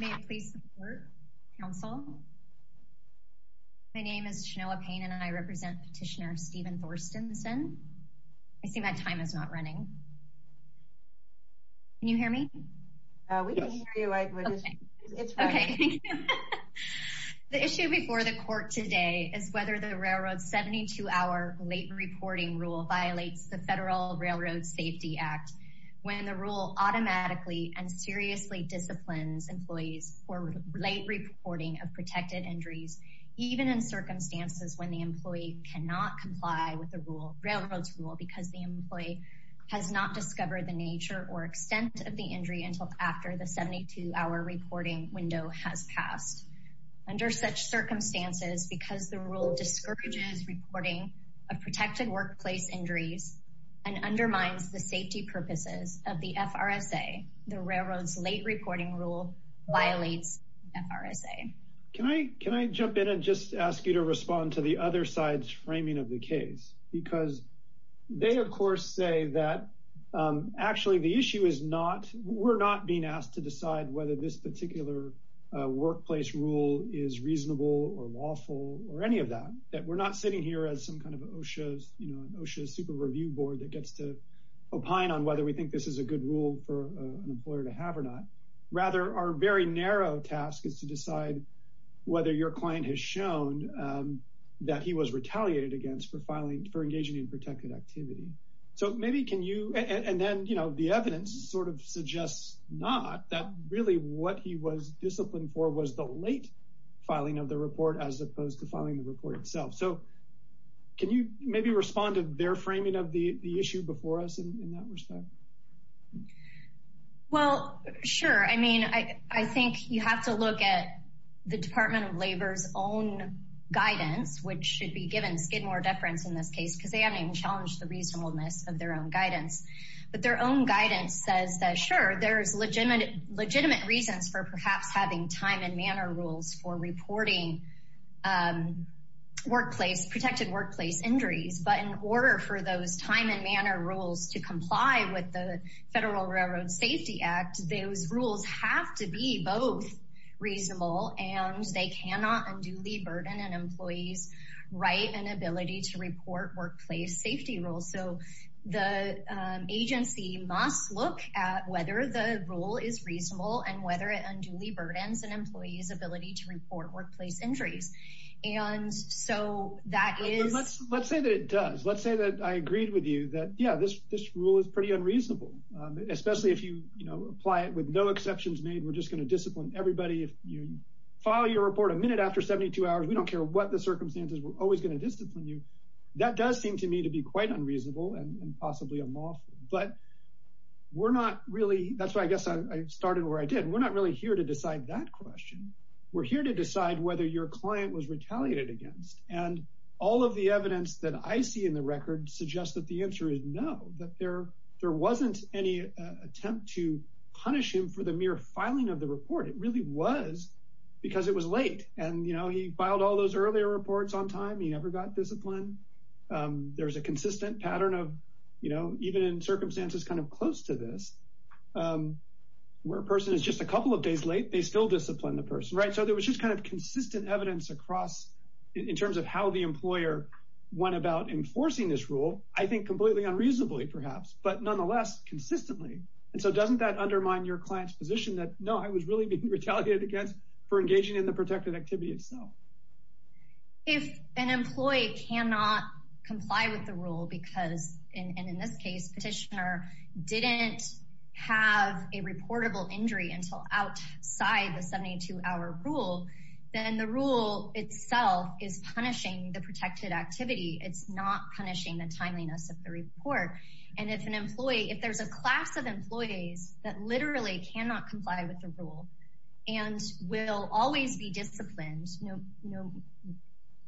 May it please the court, counsel? My name is Shanoa Payne and I represent petitioner Stephen Thorstenson. I see my time is not running. Can you hear me? We can hear you. It's fine. The issue before the court today is whether the railroad 72 hour late reporting rule violates the Federal Railroad Safety Act, when the rule automatically and seriously disciplines employees for late reporting of protected injuries, even in circumstances when the employee cannot comply with the rule, railroad's rule, because the employee has not discovered the nature or extent of the injury until after the 72 hour reporting window has passed. Under such circumstances, because the rule discourages reporting of protected workplace injuries and undermines the safety purposes of the FRSA, the railroad's late reporting rule violates FRSA. Can I can I jump in and just ask you to respond to the other side's framing of the case? Because they of course say that actually the issue is not we're not being asked to decide whether this particular workplace rule is reasonable or lawful or any of that, that we're not sitting here as some kind of OSHA's, you know, OSHA's Super Review Board that gets to opine on whether we think this is a good rule for an employer to have or not. Rather, our very narrow task is to decide whether your client has shown that he was retaliated against for filing for engaging in protected activity. So maybe can you and then, you know, the evidence sort of suggests not that really what he was disciplined for was the late filing of the report as opposed to filing the report itself. So can you maybe respond to their framing of the issue before us in that respect? Well, sure. I mean, I think you have to look at the Department of Labor's own guidance, which should be given skid more deference in this case, because they haven't even challenged the reasonableness of their own guidance. But their own guidance says that, sure, there's legitimate reasons for perhaps having time and manner rules for reporting workplace, protected workplace injuries. But in order for those time and manner rules to comply with the Federal Railroad Safety Act, those rules have to be both reasonable and they So the agency must look at whether the rule is reasonable and whether it unduly burdens an employee's ability to report workplace injuries. And so that is, let's say that it does. Let's say that I agreed with you that, yeah, this rule is pretty unreasonable, especially if you apply it with no exceptions made. We're just going to discipline everybody. If you file your report a minute after 72 hours, we don't care what the circumstances, we're quite unreasonable and possibly unlawful. But we're not really, that's why I guess I started where I did. We're not really here to decide that question. We're here to decide whether your client was retaliated against. And all of the evidence that I see in the record suggests that the answer is no, that there wasn't any attempt to punish him for the mere filing of the report. It really was because it was late. And, you know, he filed all those earlier reports on time. He never got disciplined. There's a consistent pattern of, you know, even in circumstances kind of close to this, where a person is just a couple of days late, they still discipline the person, right? So there was just kind of consistent evidence across in terms of how the employer went about enforcing this rule, I think completely unreasonably perhaps, but nonetheless consistently. And so doesn't that undermine your client's position that no, I was really being retaliated against for engaging in the protected activity itself? If an employee cannot comply with the rule, because in this case, petitioner didn't have a reportable injury until outside the 72 hour rule, then the rule itself is punishing the protected activity. It's not punishing the timeliness of the report. And if an employee, if there's a class of employees that literally cannot comply with the rule, and will always be disciplined,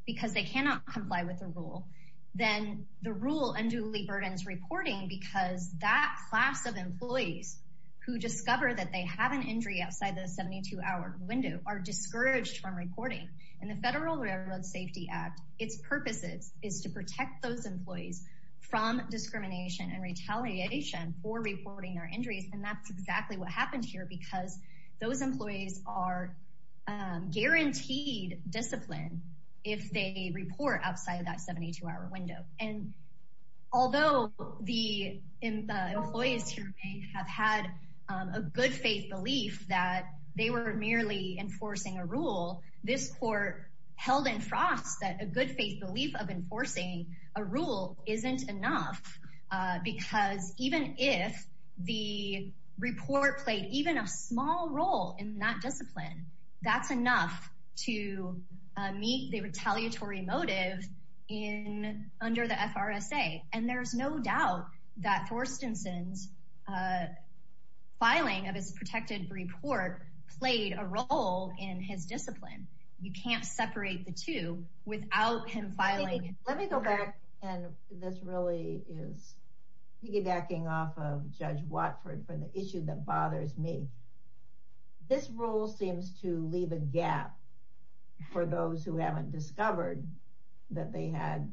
because they cannot comply with the rule, then the rule unduly burdens reporting because that class of employees who discover that they have an injury outside the 72 hour window are discouraged from reporting. And the Federal Railroad Safety Act, its purposes is to protect those employees from discrimination and retaliation for reporting their injuries. And that's exactly what happened here because those employees are guaranteed discipline if they report outside of that 72 hour window. And although the employees here may have had a good faith belief that they were merely enforcing a rule, this court held in frost that a good faith belief of enforcing a rule isn't enough. Because even if the report played even a small role in that discipline, that's enough to meet the retaliatory motive in under the FRSA. And there's no doubt that Forstenson's filing of his protected report played a role in his discipline. You can't separate the two without him filing. Let me go back. And this really is piggybacking off of Judge Watford for the issue that bothers me. This rule seems to leave a gap for those who haven't discovered that they had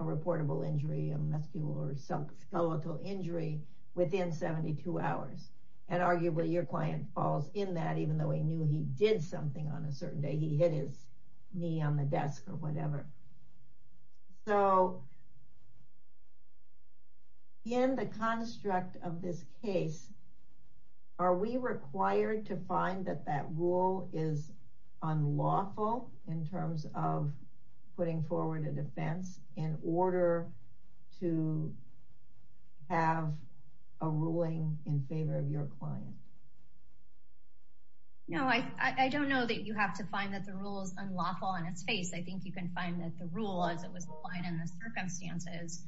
a reportable injury, a musculoskeletal injury within 72 hours. And arguably, your client falls in that even though he knew he did something on a certain day, he hit his knee on the desk or whatever. So in the construct of this case, are we required to find that that rule is unlawful in terms of putting forward a defense in order to have a ruling in favor of your client? No, I don't know that you have to find that the rule is unlawful in its face. I think you can find that the rule as it was applied in the circumstances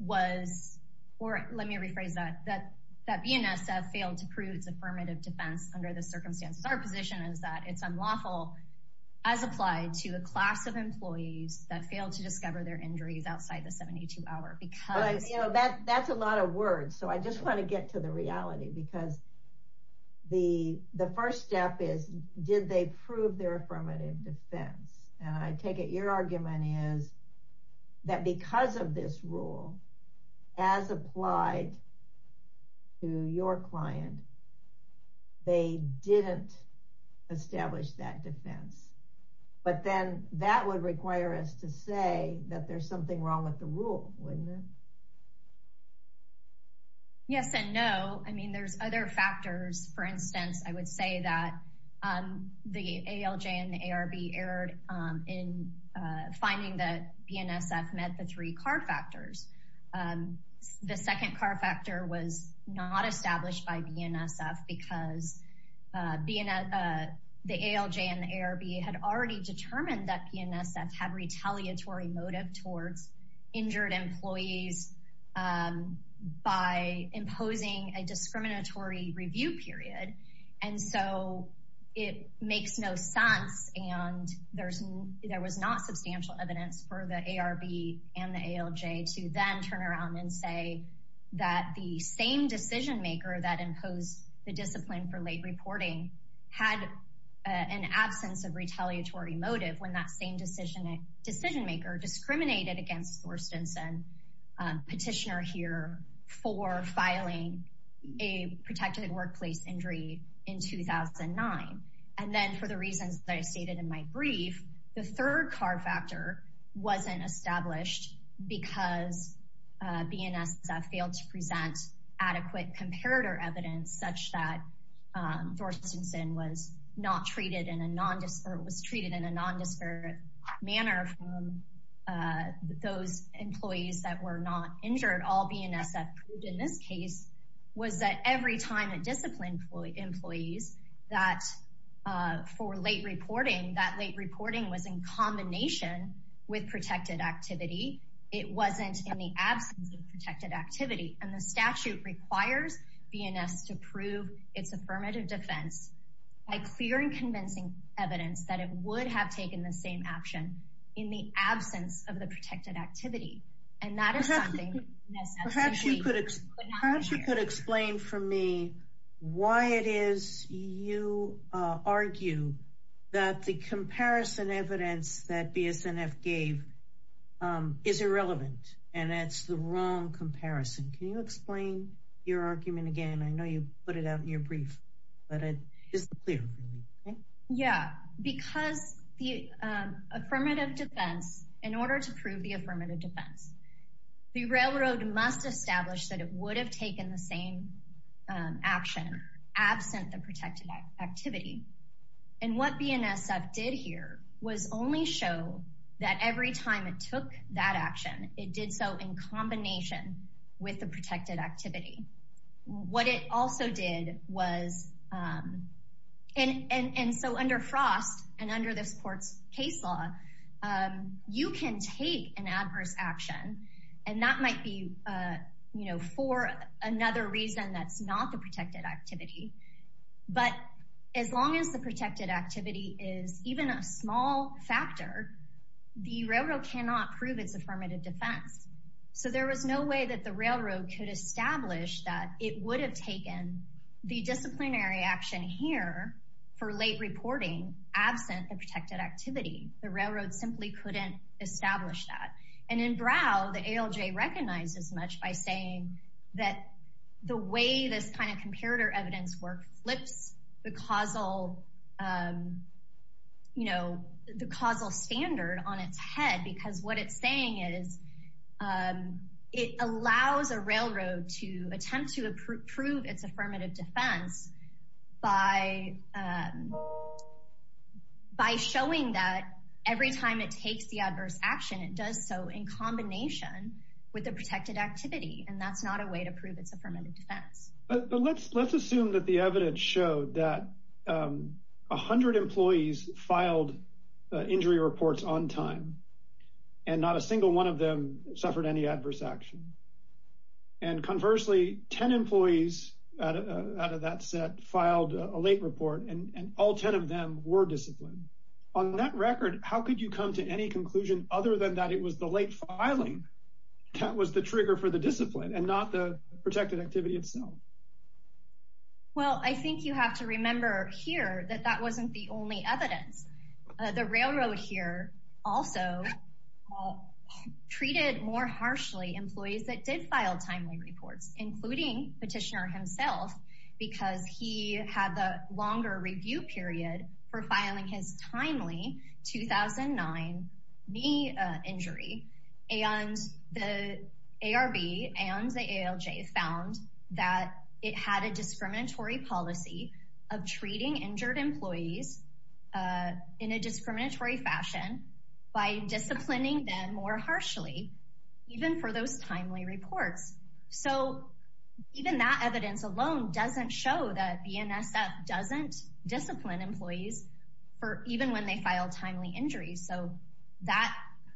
was, or let me rephrase that, that BNSF failed to prove its affirmative defense under the circumstances. Our position is that it's unlawful as applied to a class of employees that failed to discover their injuries outside the 72 hour because. That's a lot of words. So I just want to get to the reality because the first step is, did they prove their affirmative defense? And I take it your argument is that because of this rule, as applied to your client, they didn't establish that defense. But then that would require us to say that there's something wrong with the rule, wouldn't it? Yes and no. I mean, there's other factors. For instance, I would say that the ALJ and the ARB erred in finding that BNSF met the three CAR factors. The second CAR factor was not established by BNSF because the ALJ and ARB had already determined that BNSF had retaliatory motive towards injured employees by imposing a discriminatory review period. And so it makes no sense. And there was not substantial evidence for the ARB and the ALJ to then turn around and say that the same decision maker that imposed the discipline for late reporting had an absence of retaliatory motive when that same decision maker discriminated against Thorstensen, petitioner here, for filing a protected workplace injury in 2009. And then for the reasons that I stated in my brief, the third CAR factor wasn't established because BNSF failed to present adequate comparator evidence such that Thorstensen was not treated in a nondescript, was treated in a nondescript manner from those employees that were not injured. All BNSF proved in this case was that every time it disciplined employees that for late reporting, that protected activity, it wasn't in the absence of protected activity. And the statute requires BNSF to prove its affirmative defense by clear and convincing evidence that it would have taken the same action in the absence of the protected activity. And that is something that BNSF could not do. How could you explain for me why it is you argue that the comparison evidence that BNSF gave is irrelevant, and it's the wrong comparison. Can you explain your argument again? I know you put it out in your brief, but it is clear. Yeah, because the affirmative defense, in order to prove the affirmative defense, the railroad must establish that it would have taken the same action absent the protected activity. And what BNSF did here was only show that every time it took that action, it did so in combination with the protected activity. What it also did was, and so under Frost and under this another reason that's not the protected activity, but as long as the protected activity is even a small factor, the railroad cannot prove its affirmative defense. So there was no way that the railroad could establish that it would have taken the disciplinary action here for late reporting absent the protected activity. The railroad simply couldn't establish that. And in Brow, the ALJ recognizes much by saying that the way this kind of comparator evidence work flips the causal standard on its head, because what it's saying is it allows a railroad to attempt to prove its affirmative defense by showing that every time it takes the adverse action, it does so in combination with the protected activity. And that's not a way to prove it's affirmative defense. But let's, let's assume that the evidence showed that 100 employees filed injury reports on time and not a single one of them suffered any adverse action. And conversely, 10 employees out of that set filed a late report and all 10 of them were disciplined. On that record, how could you come to any conclusion other than that? It was the late filing. That was the trigger for the discipline and not the protected activity itself. Well, I think you have to remember here that that wasn't the only evidence. The railroad here also treated more harshly employees that did file timely knee injury. And the ARB and the ALJ found that it had a discriminatory policy of treating injured employees in a discriminatory fashion by disciplining them more harshly, even for those timely reports. So even that evidence alone doesn't show that BNSF doesn't discipline employees for even when they file timely injuries. So that,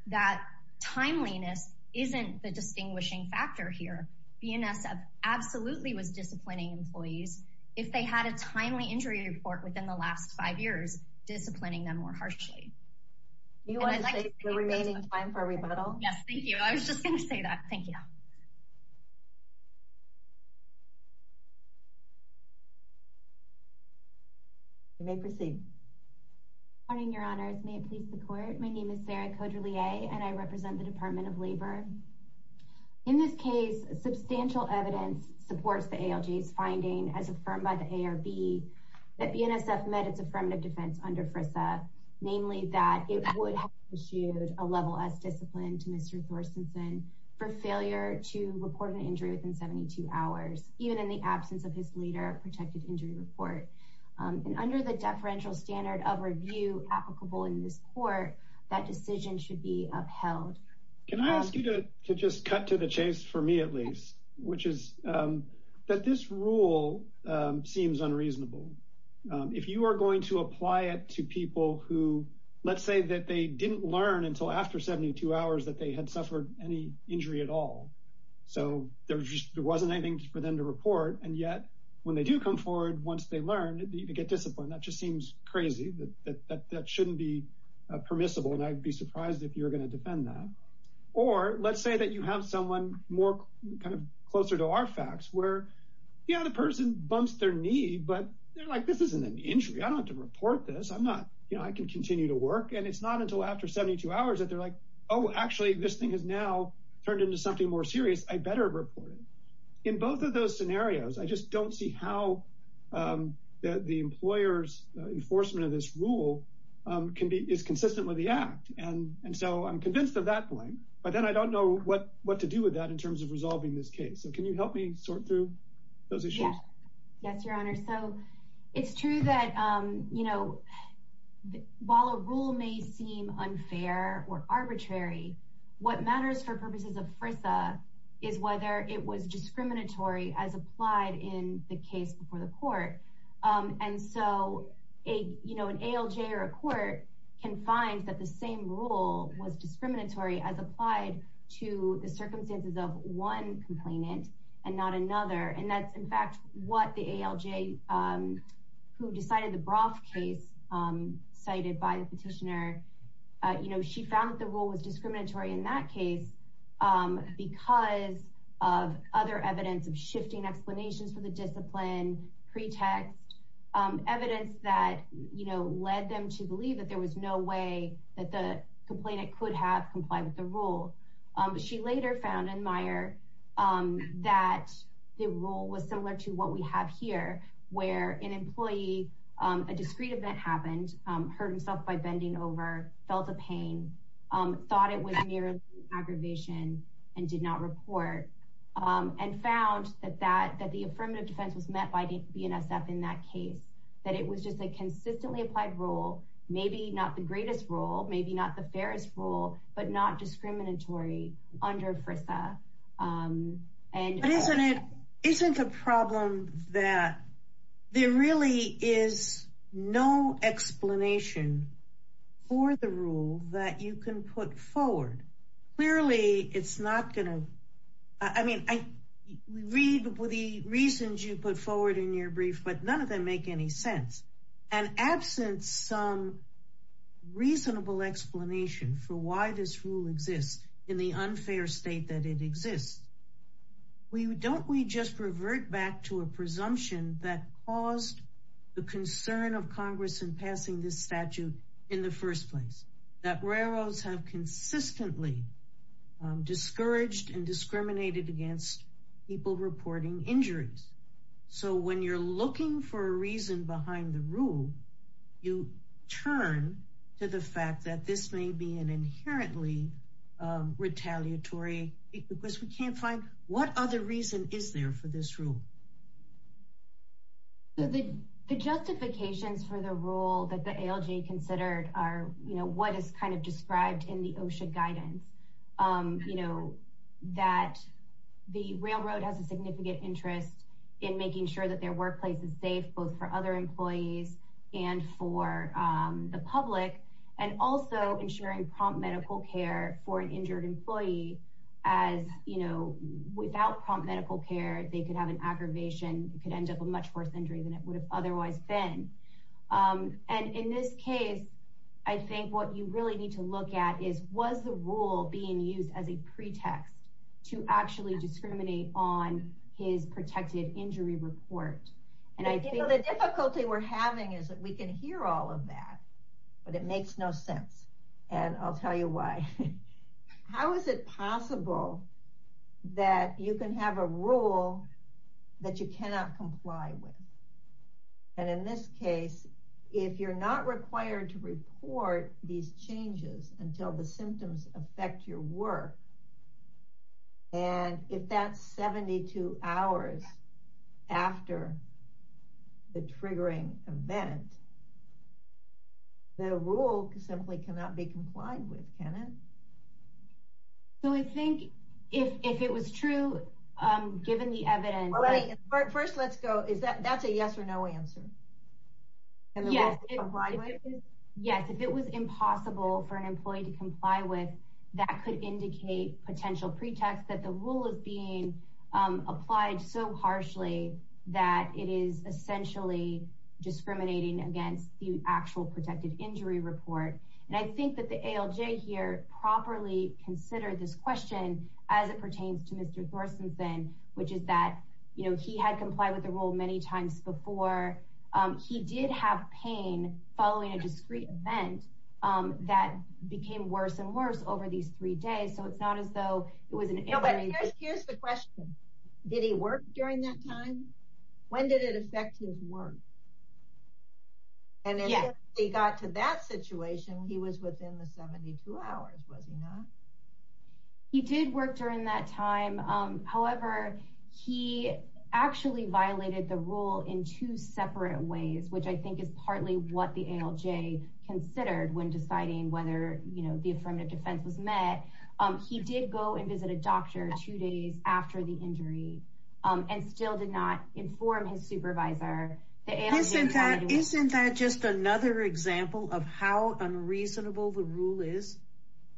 that timeliness isn't the distinguishing factor here. BNSF absolutely was disciplining employees, if they had a timely injury report within the last five years, disciplining them more harshly. You want to take the remaining time for a rebuttal? Yes, thank you. I was just going to say that. Thank you. You may proceed. Good morning, your honors. May it please the court. My name is Sarah Cauderlier and I represent the Department of Labor. In this case, substantial evidence supports the ALJ's finding as affirmed by the ARB that BNSF met its affirmative defense under FRISA, namely that it would have issued a level S discipline to Mr. Thorsonson for failure to report an injury within 72 hours, even in the absence of his later protected injury report. Under the deferential standard of review applicable in this court, that decision should be upheld. Can I ask you to just cut to the chase for me, at least, which is that this rule seems unreasonable. If you are going to apply it to people who, let's say that they didn't learn until after 72 hours that they had suffered any injury at all. So there wasn't anything for them to report. And yet, when they do come forward, once they learn to get disciplined, that just seems crazy. That shouldn't be permissible. And I'd be surprised if you're going to defend that. Or let's say that you have someone more kind of closer to our facts where, yeah, the person bumps their knee, but they're like, this isn't an injury. I don't have to report this. I'm not, you know, I can continue to work. And it's not until after 72 hours that they're like, oh, actually, this thing has now turned into something more serious. I better report it. In both of those scenarios, I just don't see how the employer's enforcement of this rule is consistent with the act. And so I'm convinced of that point. But then I don't know what to do with that in terms of resolving this case. So can you help me sort through those issues? Yes, your honor. So it's true that, you know, while a rule may seem unfair or arbitrary, what matters for purposes of FRISA is whether it was discriminatory as applied in the case before the court. And so, you know, an ALJ or a court can find that the same rule was discriminatory as applied to the circumstances of one complainant and not another. And that's, in fact, what the ALJ who decided the Brough case cited by the petitioner, you know, she found that the rule was discriminatory in that case because of other evidence of shifting explanations for the discipline, pretext, evidence that, you know, led them to believe that there was no way that the complainant could have complied with the rule. She later found in Meyer that the rule was similar to what we have here, where an employee, a discreet event happened, hurt himself by bending over, felt a pain, thought it was merely aggravation and did not report and found that the affirmative defense was met by BNSF in that case, that it was just a consistently applied rule, maybe not the greatest rule, maybe not the fairest rule, but not discriminatory under FRISA. But isn't it, isn't the problem that there really is no explanation for the rule that you can put forward? Clearly, it's not going to, I mean, we read the reasons you put forward in your brief, but none of them make any sense. And absent some reasonable explanation for why this rule exists in the unfair state that it exists, we don't, we just revert back to a presumption that caused the concern of Congress in passing this statute in the first place, that railroads have consistently discouraged and discriminated against people reporting injuries. So when you're looking for a reason behind the rule, you turn to the fact that this may be an inherently retaliatory, because we can't find what other reason is there for this rule? The justifications for the rule that the ALJ considered are, you know, what is kind of described in the OSHA guidance, you know, that the railroad has a significant interest in making sure that their workplace is safe, both for other employees and for the public, and also ensuring prompt medical care for an injured employee as, you know, without prompt medical care, they could have an aggravation, it could end up a much worse injury than it would have otherwise been. And in this case, I think what you really need to look at is, was the rule being used as a pretext to actually discriminate on his protected injury report? And I think the difficulty we're having is that we can hear all of that, but it makes no sense. And I'll tell you why. How is it possible that you can have a rule that you cannot comply with? And in this case, if you're not required to report these changes until the symptoms affect your work, and if that's 72 hours after the triggering event, the rule simply cannot be complied with, can it? So I think if it was true, given the evidence, first, let's go is that that's a yes or no answer. Yes, if it was impossible for an employee to comply with, that could indicate potential pretext that the rule is being applied so harshly, that it is essentially discriminating against the protected injury report. And I think that the ALJ here properly considered this question as it pertains to Mr. Thorsonson, which is that he had complied with the rule many times before. He did have pain following a discrete event that became worse and worse over these three days. Here's the question. Did he work during that time? When did it affect his work? He got to that situation, he was within the 72 hours, was he not? He did work during that time. However, he actually violated the rule in two separate ways, which I think is partly what the ALJ considered when deciding whether, you know, the affirmative defense was met. He did go and visit a doctor two days after the injury, and still did not of how unreasonable the rule is,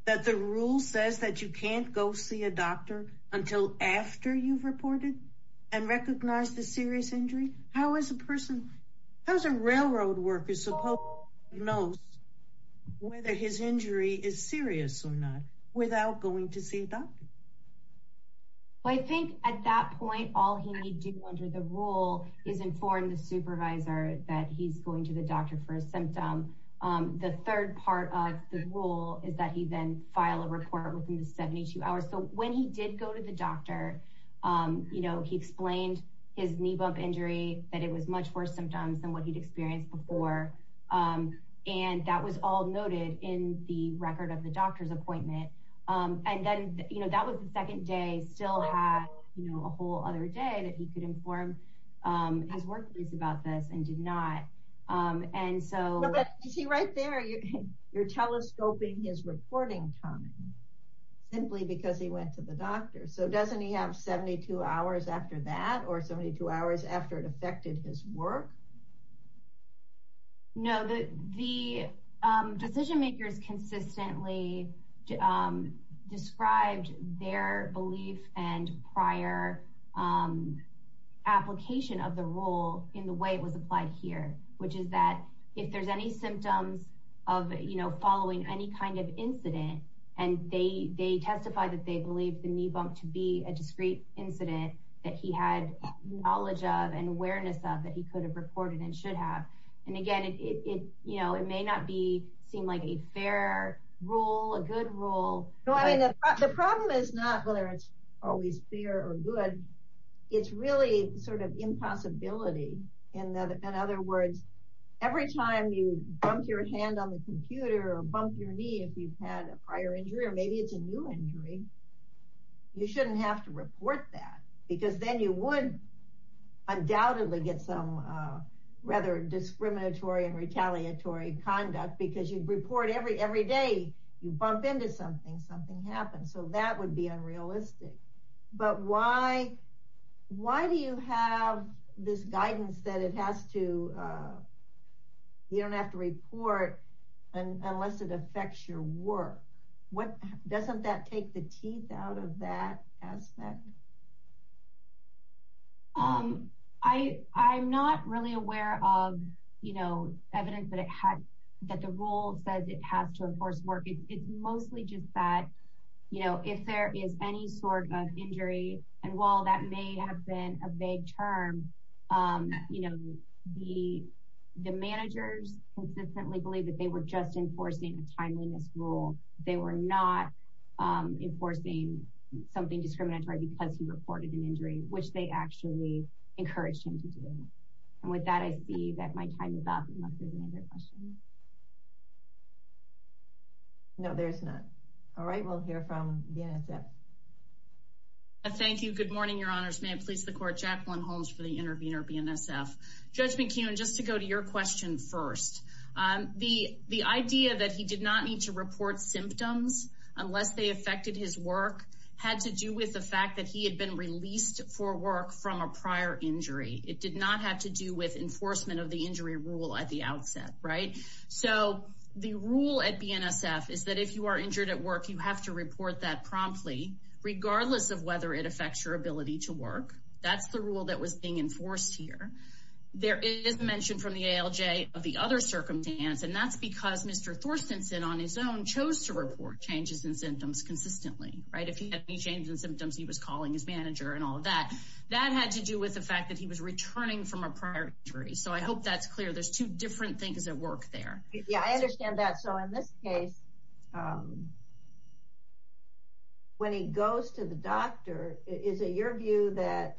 that the rule says that you can't go see a doctor until after you've reported and recognize the serious injury. How is a person, how's a railroad worker supposed to know whether his injury is serious or not without going to see a doctor? I think at that point, all he needed to do under the rule is inform the supervisor that he's going to the doctor for a symptom. The third part of the rule is that he then file a report within the 72 hours. So when he did go to the doctor, you know, he explained his knee bump injury, that it was much worse symptoms than what he'd experienced before. And that was all noted in the record of the doctor's appointment. And then, you know, that was the second day, still had, you know, a whole other day that he could inform his workers about this and did not. And so, you see right there, you're telescoping his reporting time, simply because he went to the doctor. So doesn't he have 72 hours after that, or 72 hours after it affected his work? No, the decision makers consistently described their belief and prior application of the rule in the way it was applied here, which is that if there's any symptoms of, you know, following any kind of incident, and they testify that they believe the knee bump to be a discrete incident that he had knowledge of and awareness of that he could have reported and should have. And again, it, you know, it may not be seem like a fair rule, a good rule. No, I mean, the problem is not whether it's always fair or good. It's really sort of impossibility. In other words, every time you bump your hand on the computer or bump your knee, if you've had a prior injury, or maybe it's a new injury, you shouldn't have to report that because then you would undoubtedly get some rather discriminatory and retaliatory conduct because you'd report every day you bump into something, something happens. So that would be unrealistic. But why do you have this guidance that it has to, you don't have to report unless it affects your work? What doesn't that take the teeth out of that aspect? Um, I, I'm not really aware of, you know, evidence that it had that the rule says it has to enforce work, it's mostly just that, you know, if there is any sort of injury, and while that may have been a vague term, you know, the, the managers consistently believe they were just enforcing a timeliness rule, they were not enforcing something discriminatory because he reported an injury, which they actually encouraged him to do. And with that, I see that my time is up. No, there's not. All right, we'll hear from the NSF. Thank you. Good morning, Your Honors. May it please the Court, Jacqueline Holmes for the idea that he did not need to report symptoms unless they affected his work had to do with the fact that he had been released for work from a prior injury. It did not have to do with enforcement of the injury rule at the outset, right? So the rule at BNSF is that if you are injured at work, you have to report that promptly, regardless of whether it affects your ability to work. That's the rule that was being enforced here. There is mention from the ALJ of the other circumstance, and that's because Mr. Thorstensen on his own chose to report changes in symptoms consistently, right? If he had any changes in symptoms, he was calling his manager and all of that. That had to do with the fact that he was returning from a prior injury. So I hope that's clear. There's two different things at work there. Yeah, I understand that. So in this case, when he goes to the doctor, is it your view that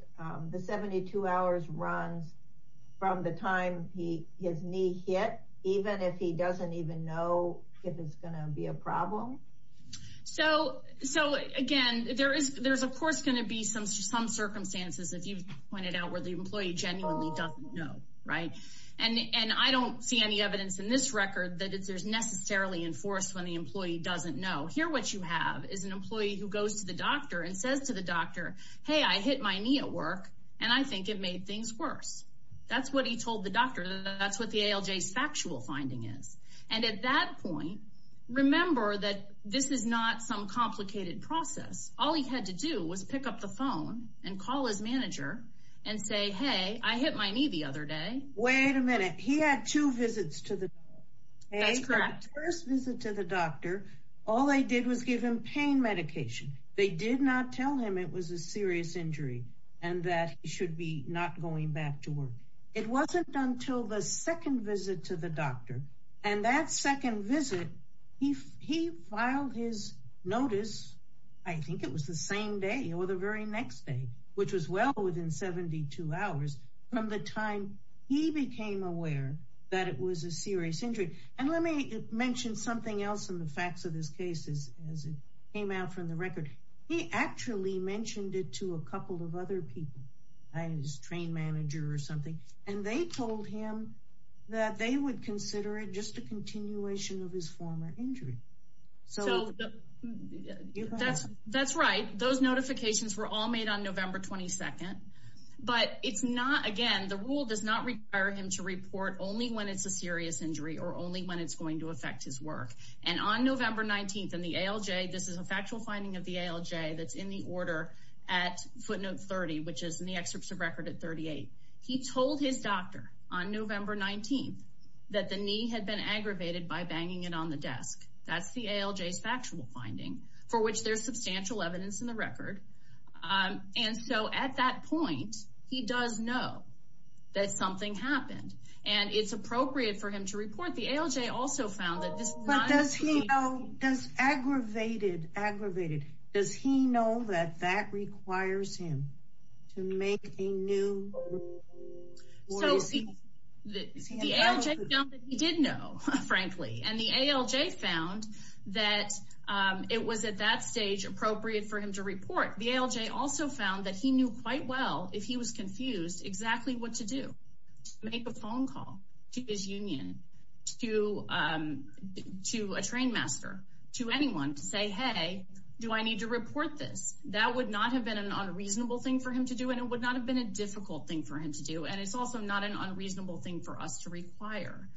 the 72 hours runs from the time he, his knee hit, even if he doesn't even know if it's going to be a problem? So again, there is, there's of course going to be some circumstances if you've pointed out where the employee genuinely doesn't know, right? And I don't see any evidence in this record that it's necessarily enforced when the employee doesn't know. Here what you have is an employee who goes to the doctor and says to the doctor, hey, I hit my knee at work and I think it made things worse. That's what he told the doctor. That's what the ALJ's factual finding is. And at that point, remember that this is not some complicated process. All he had to do was pick up the phone and call his manager and say, hey, I hit my knee the other day. Wait a minute. He had two visits to the doctor. That's correct. First visit to the doctor. All they did was give him pain medication. They did not tell him it was a serious injury and that he should be not going back to work. It wasn't until the second visit to the doctor. And that second visit, he, he filed his notice. I think it was the same day or the very next day, which was well within 72 hours from the time he became aware that it was a serious injury. And let me mention something else in the facts of this case is as it came out from the record, he actually mentioned it to a couple of other people, his train manager or something. And they told him that they would consider it just a continuation of his former injury. So that's, that's right. Those notifications were all made on November 22nd, but it's not again, the rule does not require him to report only when it's a serious injury or only when it's going to that's in the order at footnote 30, which is in the excerpts of record at 38. He told his doctor on November 19th, that the knee had been aggravated by banging it on the desk. That's the ALJ factual finding for which there's substantial evidence in the record. And so at that point, he does know that something happened and it's appropriate for him to report the ALJ also found that this does aggravated aggravated, does he know that that requires him to make a new? He did know, frankly, and the ALJ found that it was at that stage appropriate for him to report the ALJ also found that he knew quite well, if he was confused exactly what to do, make a phone call to his union, to to a train master, to anyone to say, Hey, do I need to report this? That would not have been an unreasonable thing for him to do. And it would not have been a difficult thing for him to do. And it's also not an unreasonable thing for us to require.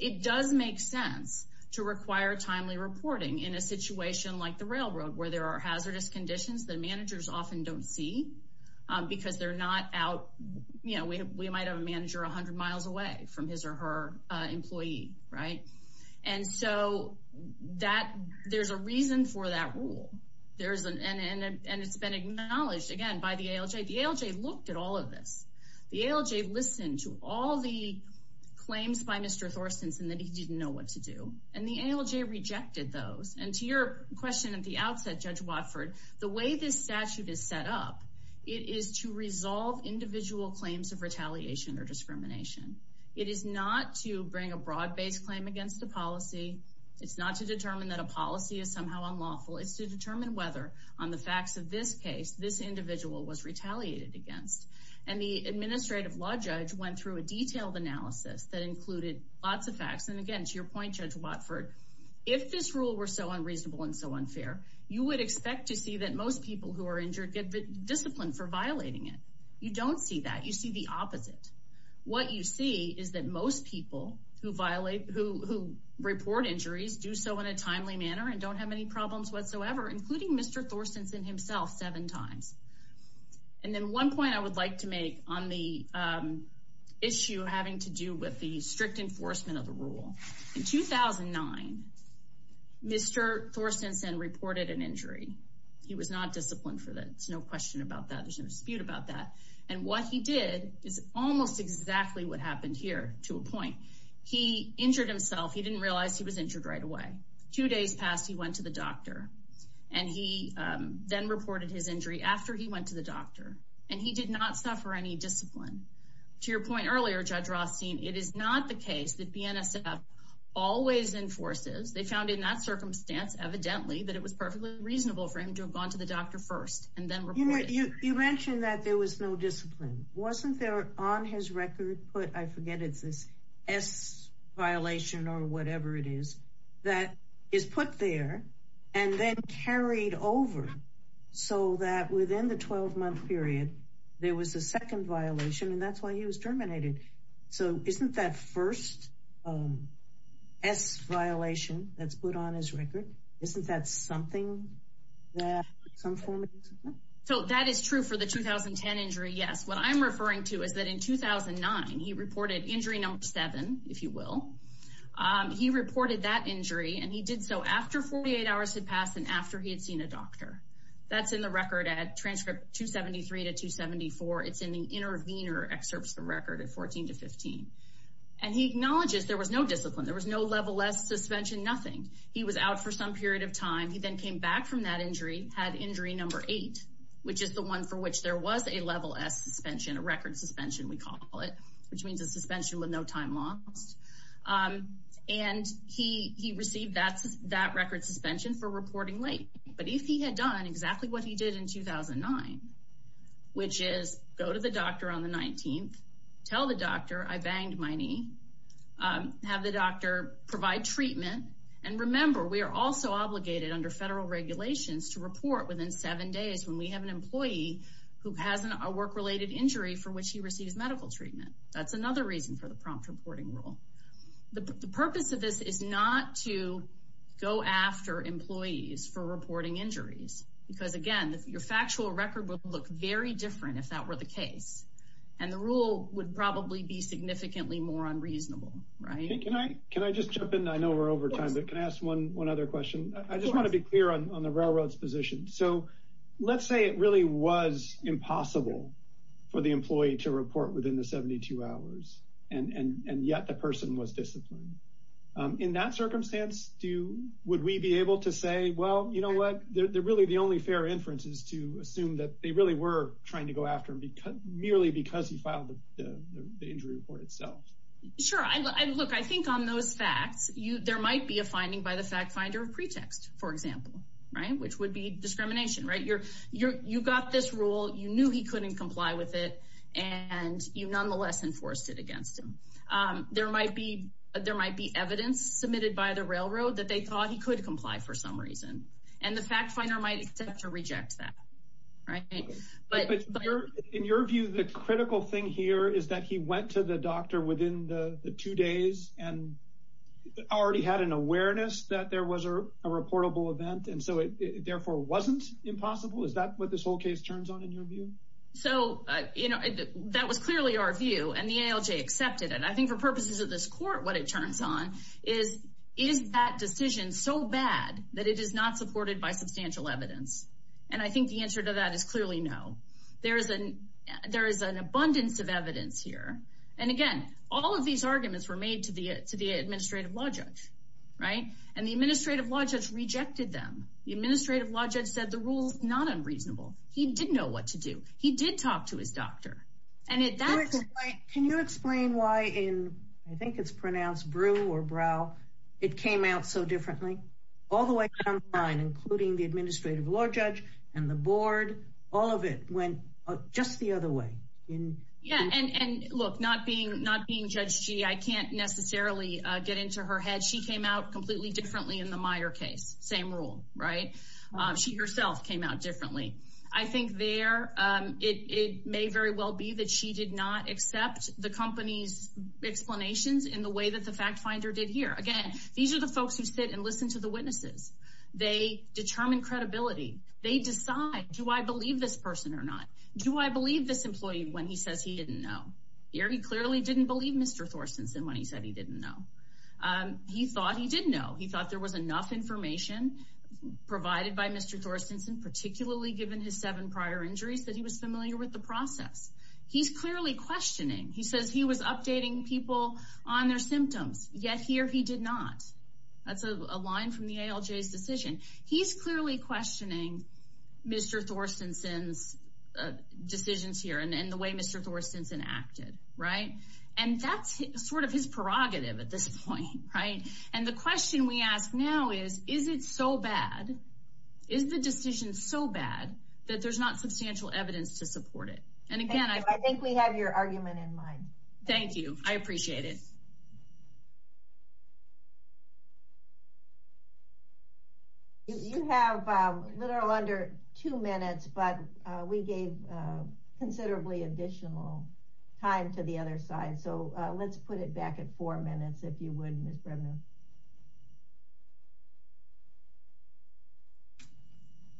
It does make sense to require timely reporting in a situation like the railroad, where there are hazardous conditions that managers often don't see because they're not out, you know, we might have a manager 100 miles away from his or her employee, right? And so that there's a reason for that rule. There's an and it's been acknowledged again by the ALJ, the ALJ looked at all of this, the ALJ listened to all the claims by Mr. Thorson's and that he didn't know what to do. And the ALJ rejected those. And to your question at the outset, Judge Watford, the way this statute is set up, it is to resolve individual claims of retaliation or discrimination. It is not to bring a broad based claim against the policy. It's not to determine that a policy is somehow unlawful. It's to determine whether on the facts of this case, this individual was retaliated against. And the administrative law judge went through a detailed analysis that included lots of facts. And again, to your point, Judge Watford, if this rule were so unreasonable and so unfair, you would expect to see that most people who are injured get disciplined for violating it. You don't see that. You see the opposite. What you see is that most people who violate who report injuries do so in a timely manner and don't have any problems whatsoever, including Mr. Thorson's and himself seven times. And then one point I would like to make on the issue having to do with the strict enforcement of the rule. In 2009, Mr. Thorson reported an injury. He was not disciplined for that. It's no question about that. There's no dispute about that. And what he did is almost exactly what happened here to a point. He injured himself. He didn't realize he was injured right away. Two days passed. He went to the doctor and he then reported his injury after he went to the NSF. They found in that circumstance, evidently, that it was perfectly reasonable for him to have gone to the doctor first and then report it. You mentioned that there was no discipline. Wasn't there on his record put, I forget, it's this S violation or whatever it is, that is put there and then carried over so that within the 12-month period, there was a second violation, and that's why he was terminated. So isn't that first S violation that's put on his record, isn't that something that some form of discipline? So that is true for the 2010 injury. Yes. What I'm referring to is that in 2009, he reported injury number seven, if you will. He reported that injury and he did so after 48 hours had passed and after he had seen a doctor. That's in the record at excerpts from record at 14 to 15. And he acknowledges there was no discipline. There was no level S suspension, nothing. He was out for some period of time. He then came back from that injury, had injury number eight, which is the one for which there was a level S suspension, a record suspension, we call it, which means a suspension with no time lost. And he received that record suspension for reporting late. But if he had done exactly what he did in 2009, which is go to the doctor on the 19th, tell the doctor I banged my knee, have the doctor provide treatment. And remember, we are also obligated under federal regulations to report within seven days when we have an employee who has a work-related injury for which he receives medical treatment. That's another reason for the prompt reporting rule. The purpose of this is not to go after employees for reporting injuries, because again, your factual record will look very different if that were the case. And the rule would probably be significantly more unreasonable, right? Can I just jump in? I know we're over time, but can I ask one other question? I just want to be clear on the railroad's position. So let's say it really was impossible for the employee to report within the 72 hours, and yet the person was disciplined. In that circumstance, would we be able to say, well, you know what, really the only fair inference is to assume that they really were trying to go after him merely because he filed the injury report itself? Sure. Look, I think on those facts, there might be a finding by the fact finder of pretext, for example, right? Which would be discrimination, right? You got this rule, you knew he couldn't comply with it, and you nonetheless enforced it against him. There might be evidence submitted by the railroad that they thought he could comply for some reason, and the fact finder might accept or reject that, right? But in your view, the critical thing here is that he went to the doctor within the two days and already had an awareness that there was a reportable event, and so it therefore wasn't impossible? Is that what this whole case turns on in your view? So, you know, that was clearly our view, and the ALJ accepted it. I think for purposes of this court, what it turns on is, is that decision so bad that it is not supported by substantial evidence? And I think the answer to that is clearly no. There is an abundance of evidence here, and again, all of these arguments were made to the administrative law judge, right? And the administrative law judge said the rule is not unreasonable. He did know what to do. He did talk to his doctor. Can you explain why in, I think it's pronounced brew or brow, it came out so differently? All the way down the line, including the administrative law judge and the board, all of it went just the other way. Yeah, and look, not being Judge Gee, I can't necessarily get into her head. She came out completely differently in the Meyer case. Same rule, right? She herself came out differently. I think there, it may very well be that she did not accept the company's explanations in the way that the fact finder did here. Again, these are the folks who sit and listen to the witnesses. They determine credibility. They decide, do I believe this person or not? Do I believe this employee when he says he didn't know? He clearly didn't believe Mr. Thorstensen when he said he didn't know. He thought he didn't know. He thought there was enough information provided by Mr. Thorstensen, particularly given his seven prior injuries, that he was familiar with the process. He's clearly questioning. He says he was updating people on their symptoms, yet here he did not. That's a line from the ALJ's decision. He's clearly questioning Mr. Thorstensen's decisions here and the way Mr. Thorstensen acted, right? That's sort of his prerogative at this point, right? The question we ask now is, is it so bad? Is the decision so bad that there's not substantial evidence to support it? And again, I think we have your argument in mind. Thank you. I appreciate it. You have literally under two minutes, but we gave considerably additional time to the other side. Let's put it back at four minutes, if you would, Ms. Brevner.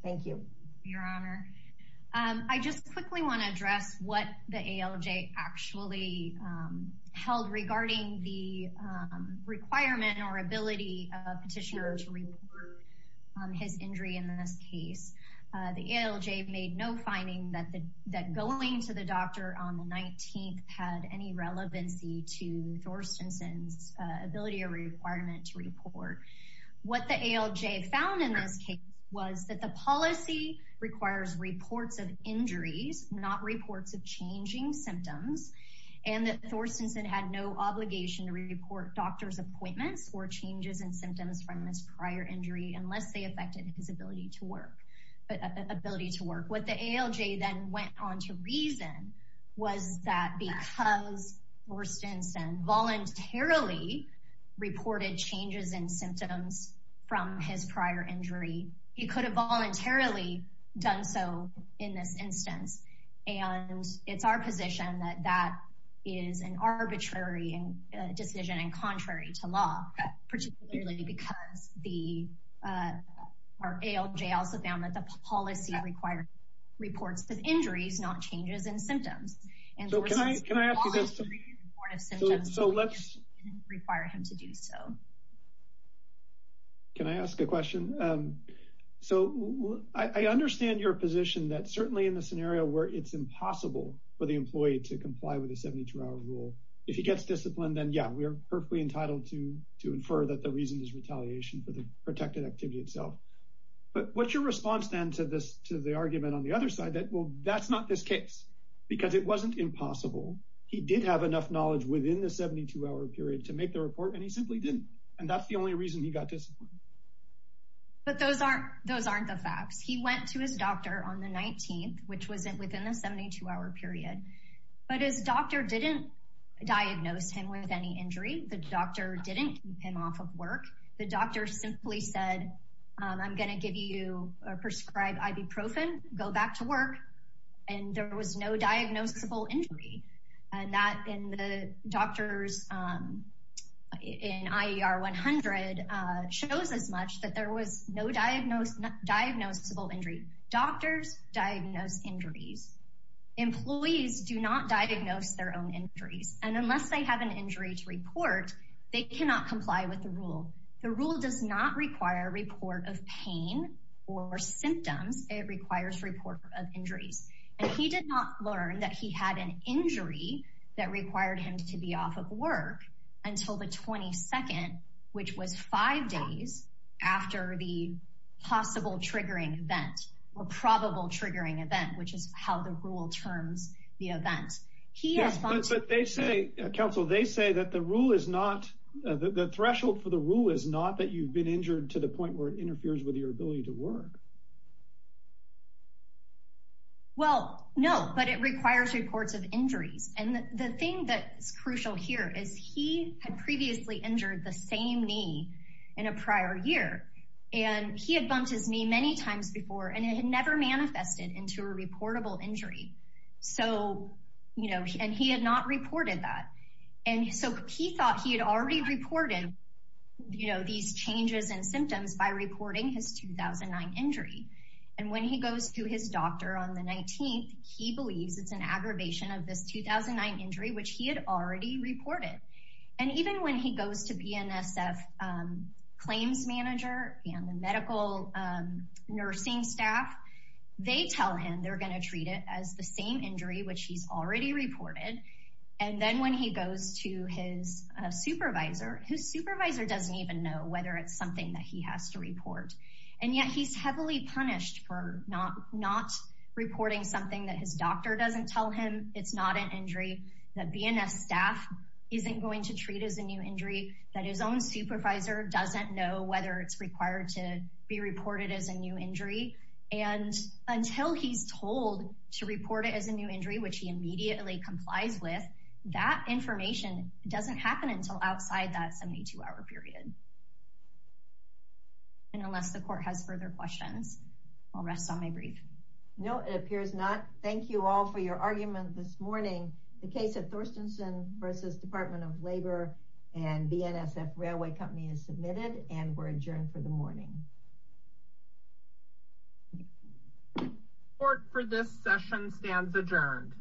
Thank you, your honor. I just quickly want to address what the ALJ actually held regarding the requirement or ability of a petitioner to report his injury in this case. The ALJ made no finding that going to the doctor on the 19th had any relevancy to Thorstensen's ability or requirement to report. What the ALJ found in this case was that the policy requires reports of injuries, not reports of changing symptoms, and that Thorstensen had no obligation to report doctor's appointments or changes in symptoms from this prior injury, unless they affected his ability to work. What the ALJ then went on to reason was that because Thorstensen voluntarily reported changes in symptoms from his prior injury, he could have voluntarily done so in this instance. And it's our position that that is an arbitrary decision and our ALJ also found that the policy required reports of injuries, not changes in symptoms. Can I ask a question? So I understand your position that certainly in the scenario where it's impossible for the employee to comply with a 72-hour rule, if he gets disciplined, then yeah, we're perfectly entitled to to infer that the reason is retaliation for the protected activity itself. But what's your response then to the argument on the other side that, well, that's not this case? Because it wasn't impossible. He did have enough knowledge within the 72-hour period to make the report, and he simply didn't. And that's the only reason he got disciplined. But those aren't the facts. He went to his doctor on the 19th, which was within the 72-hour period. But his doctor didn't diagnose him with any injury. The doctor didn't keep him off of work. The doctor simply said, I'm going to give you a prescribed ibuprofen, go back to work. And there was no diagnosable injury. And that in the doctors in IER 100 shows as much that there was no diagnosable injury. Doctors diagnose injuries. Employees do not diagnose their own injuries. And unless they have an injury to report, they cannot comply with the rule. The rule does not require a report of pain or symptoms. It requires report of injuries. And he did not learn that he had an injury that required him to be off of work until the 22nd, which was five days after the possible triggering event, or probable triggering event, which is how the rule terms the event. Yes, but they say, counsel, they say that the rule is not, the threshold for the rule is not that you've been injured to the point where it interferes with your ability to work. Well, no, but it requires reports of injuries. And the thing that's crucial here is he had previously injured the same knee in a prior year. And he had bumped his knee many times before, and it had never manifested into a reportable injury. So, you know, and he had not reported that. And so he thought he had already reported, you know, these changes and symptoms by reporting his 2009 injury. And when he goes to his doctor on the 19th, he believes it's an aggravation of this 2009 injury, which he had already reported. And even when he goes to BNSF claims manager and the medical nursing staff, they tell him they're going to treat it as the same injury, which he's already reported. And then when he goes to his supervisor, his supervisor doesn't even know whether it's something that he has to report. And yet he's heavily punished for not reporting something that his doctor doesn't tell him it's not an injury, that BNSF staff isn't going to treat as a new injury, that his own supervisor doesn't know whether it's required to be reported as a new injury. And until he's told to report it as a new injury, which he immediately complies with, that information doesn't happen until outside that 72 hour period. And unless the court has further questions, I'll rest on my brief. No, it appears not. Thank you all for your argument this morning. The case of Thorstensen versus Department of Labor and BNSF Railway Company is submitted and we're adjourned for the morning. Court for this session stands adjourned.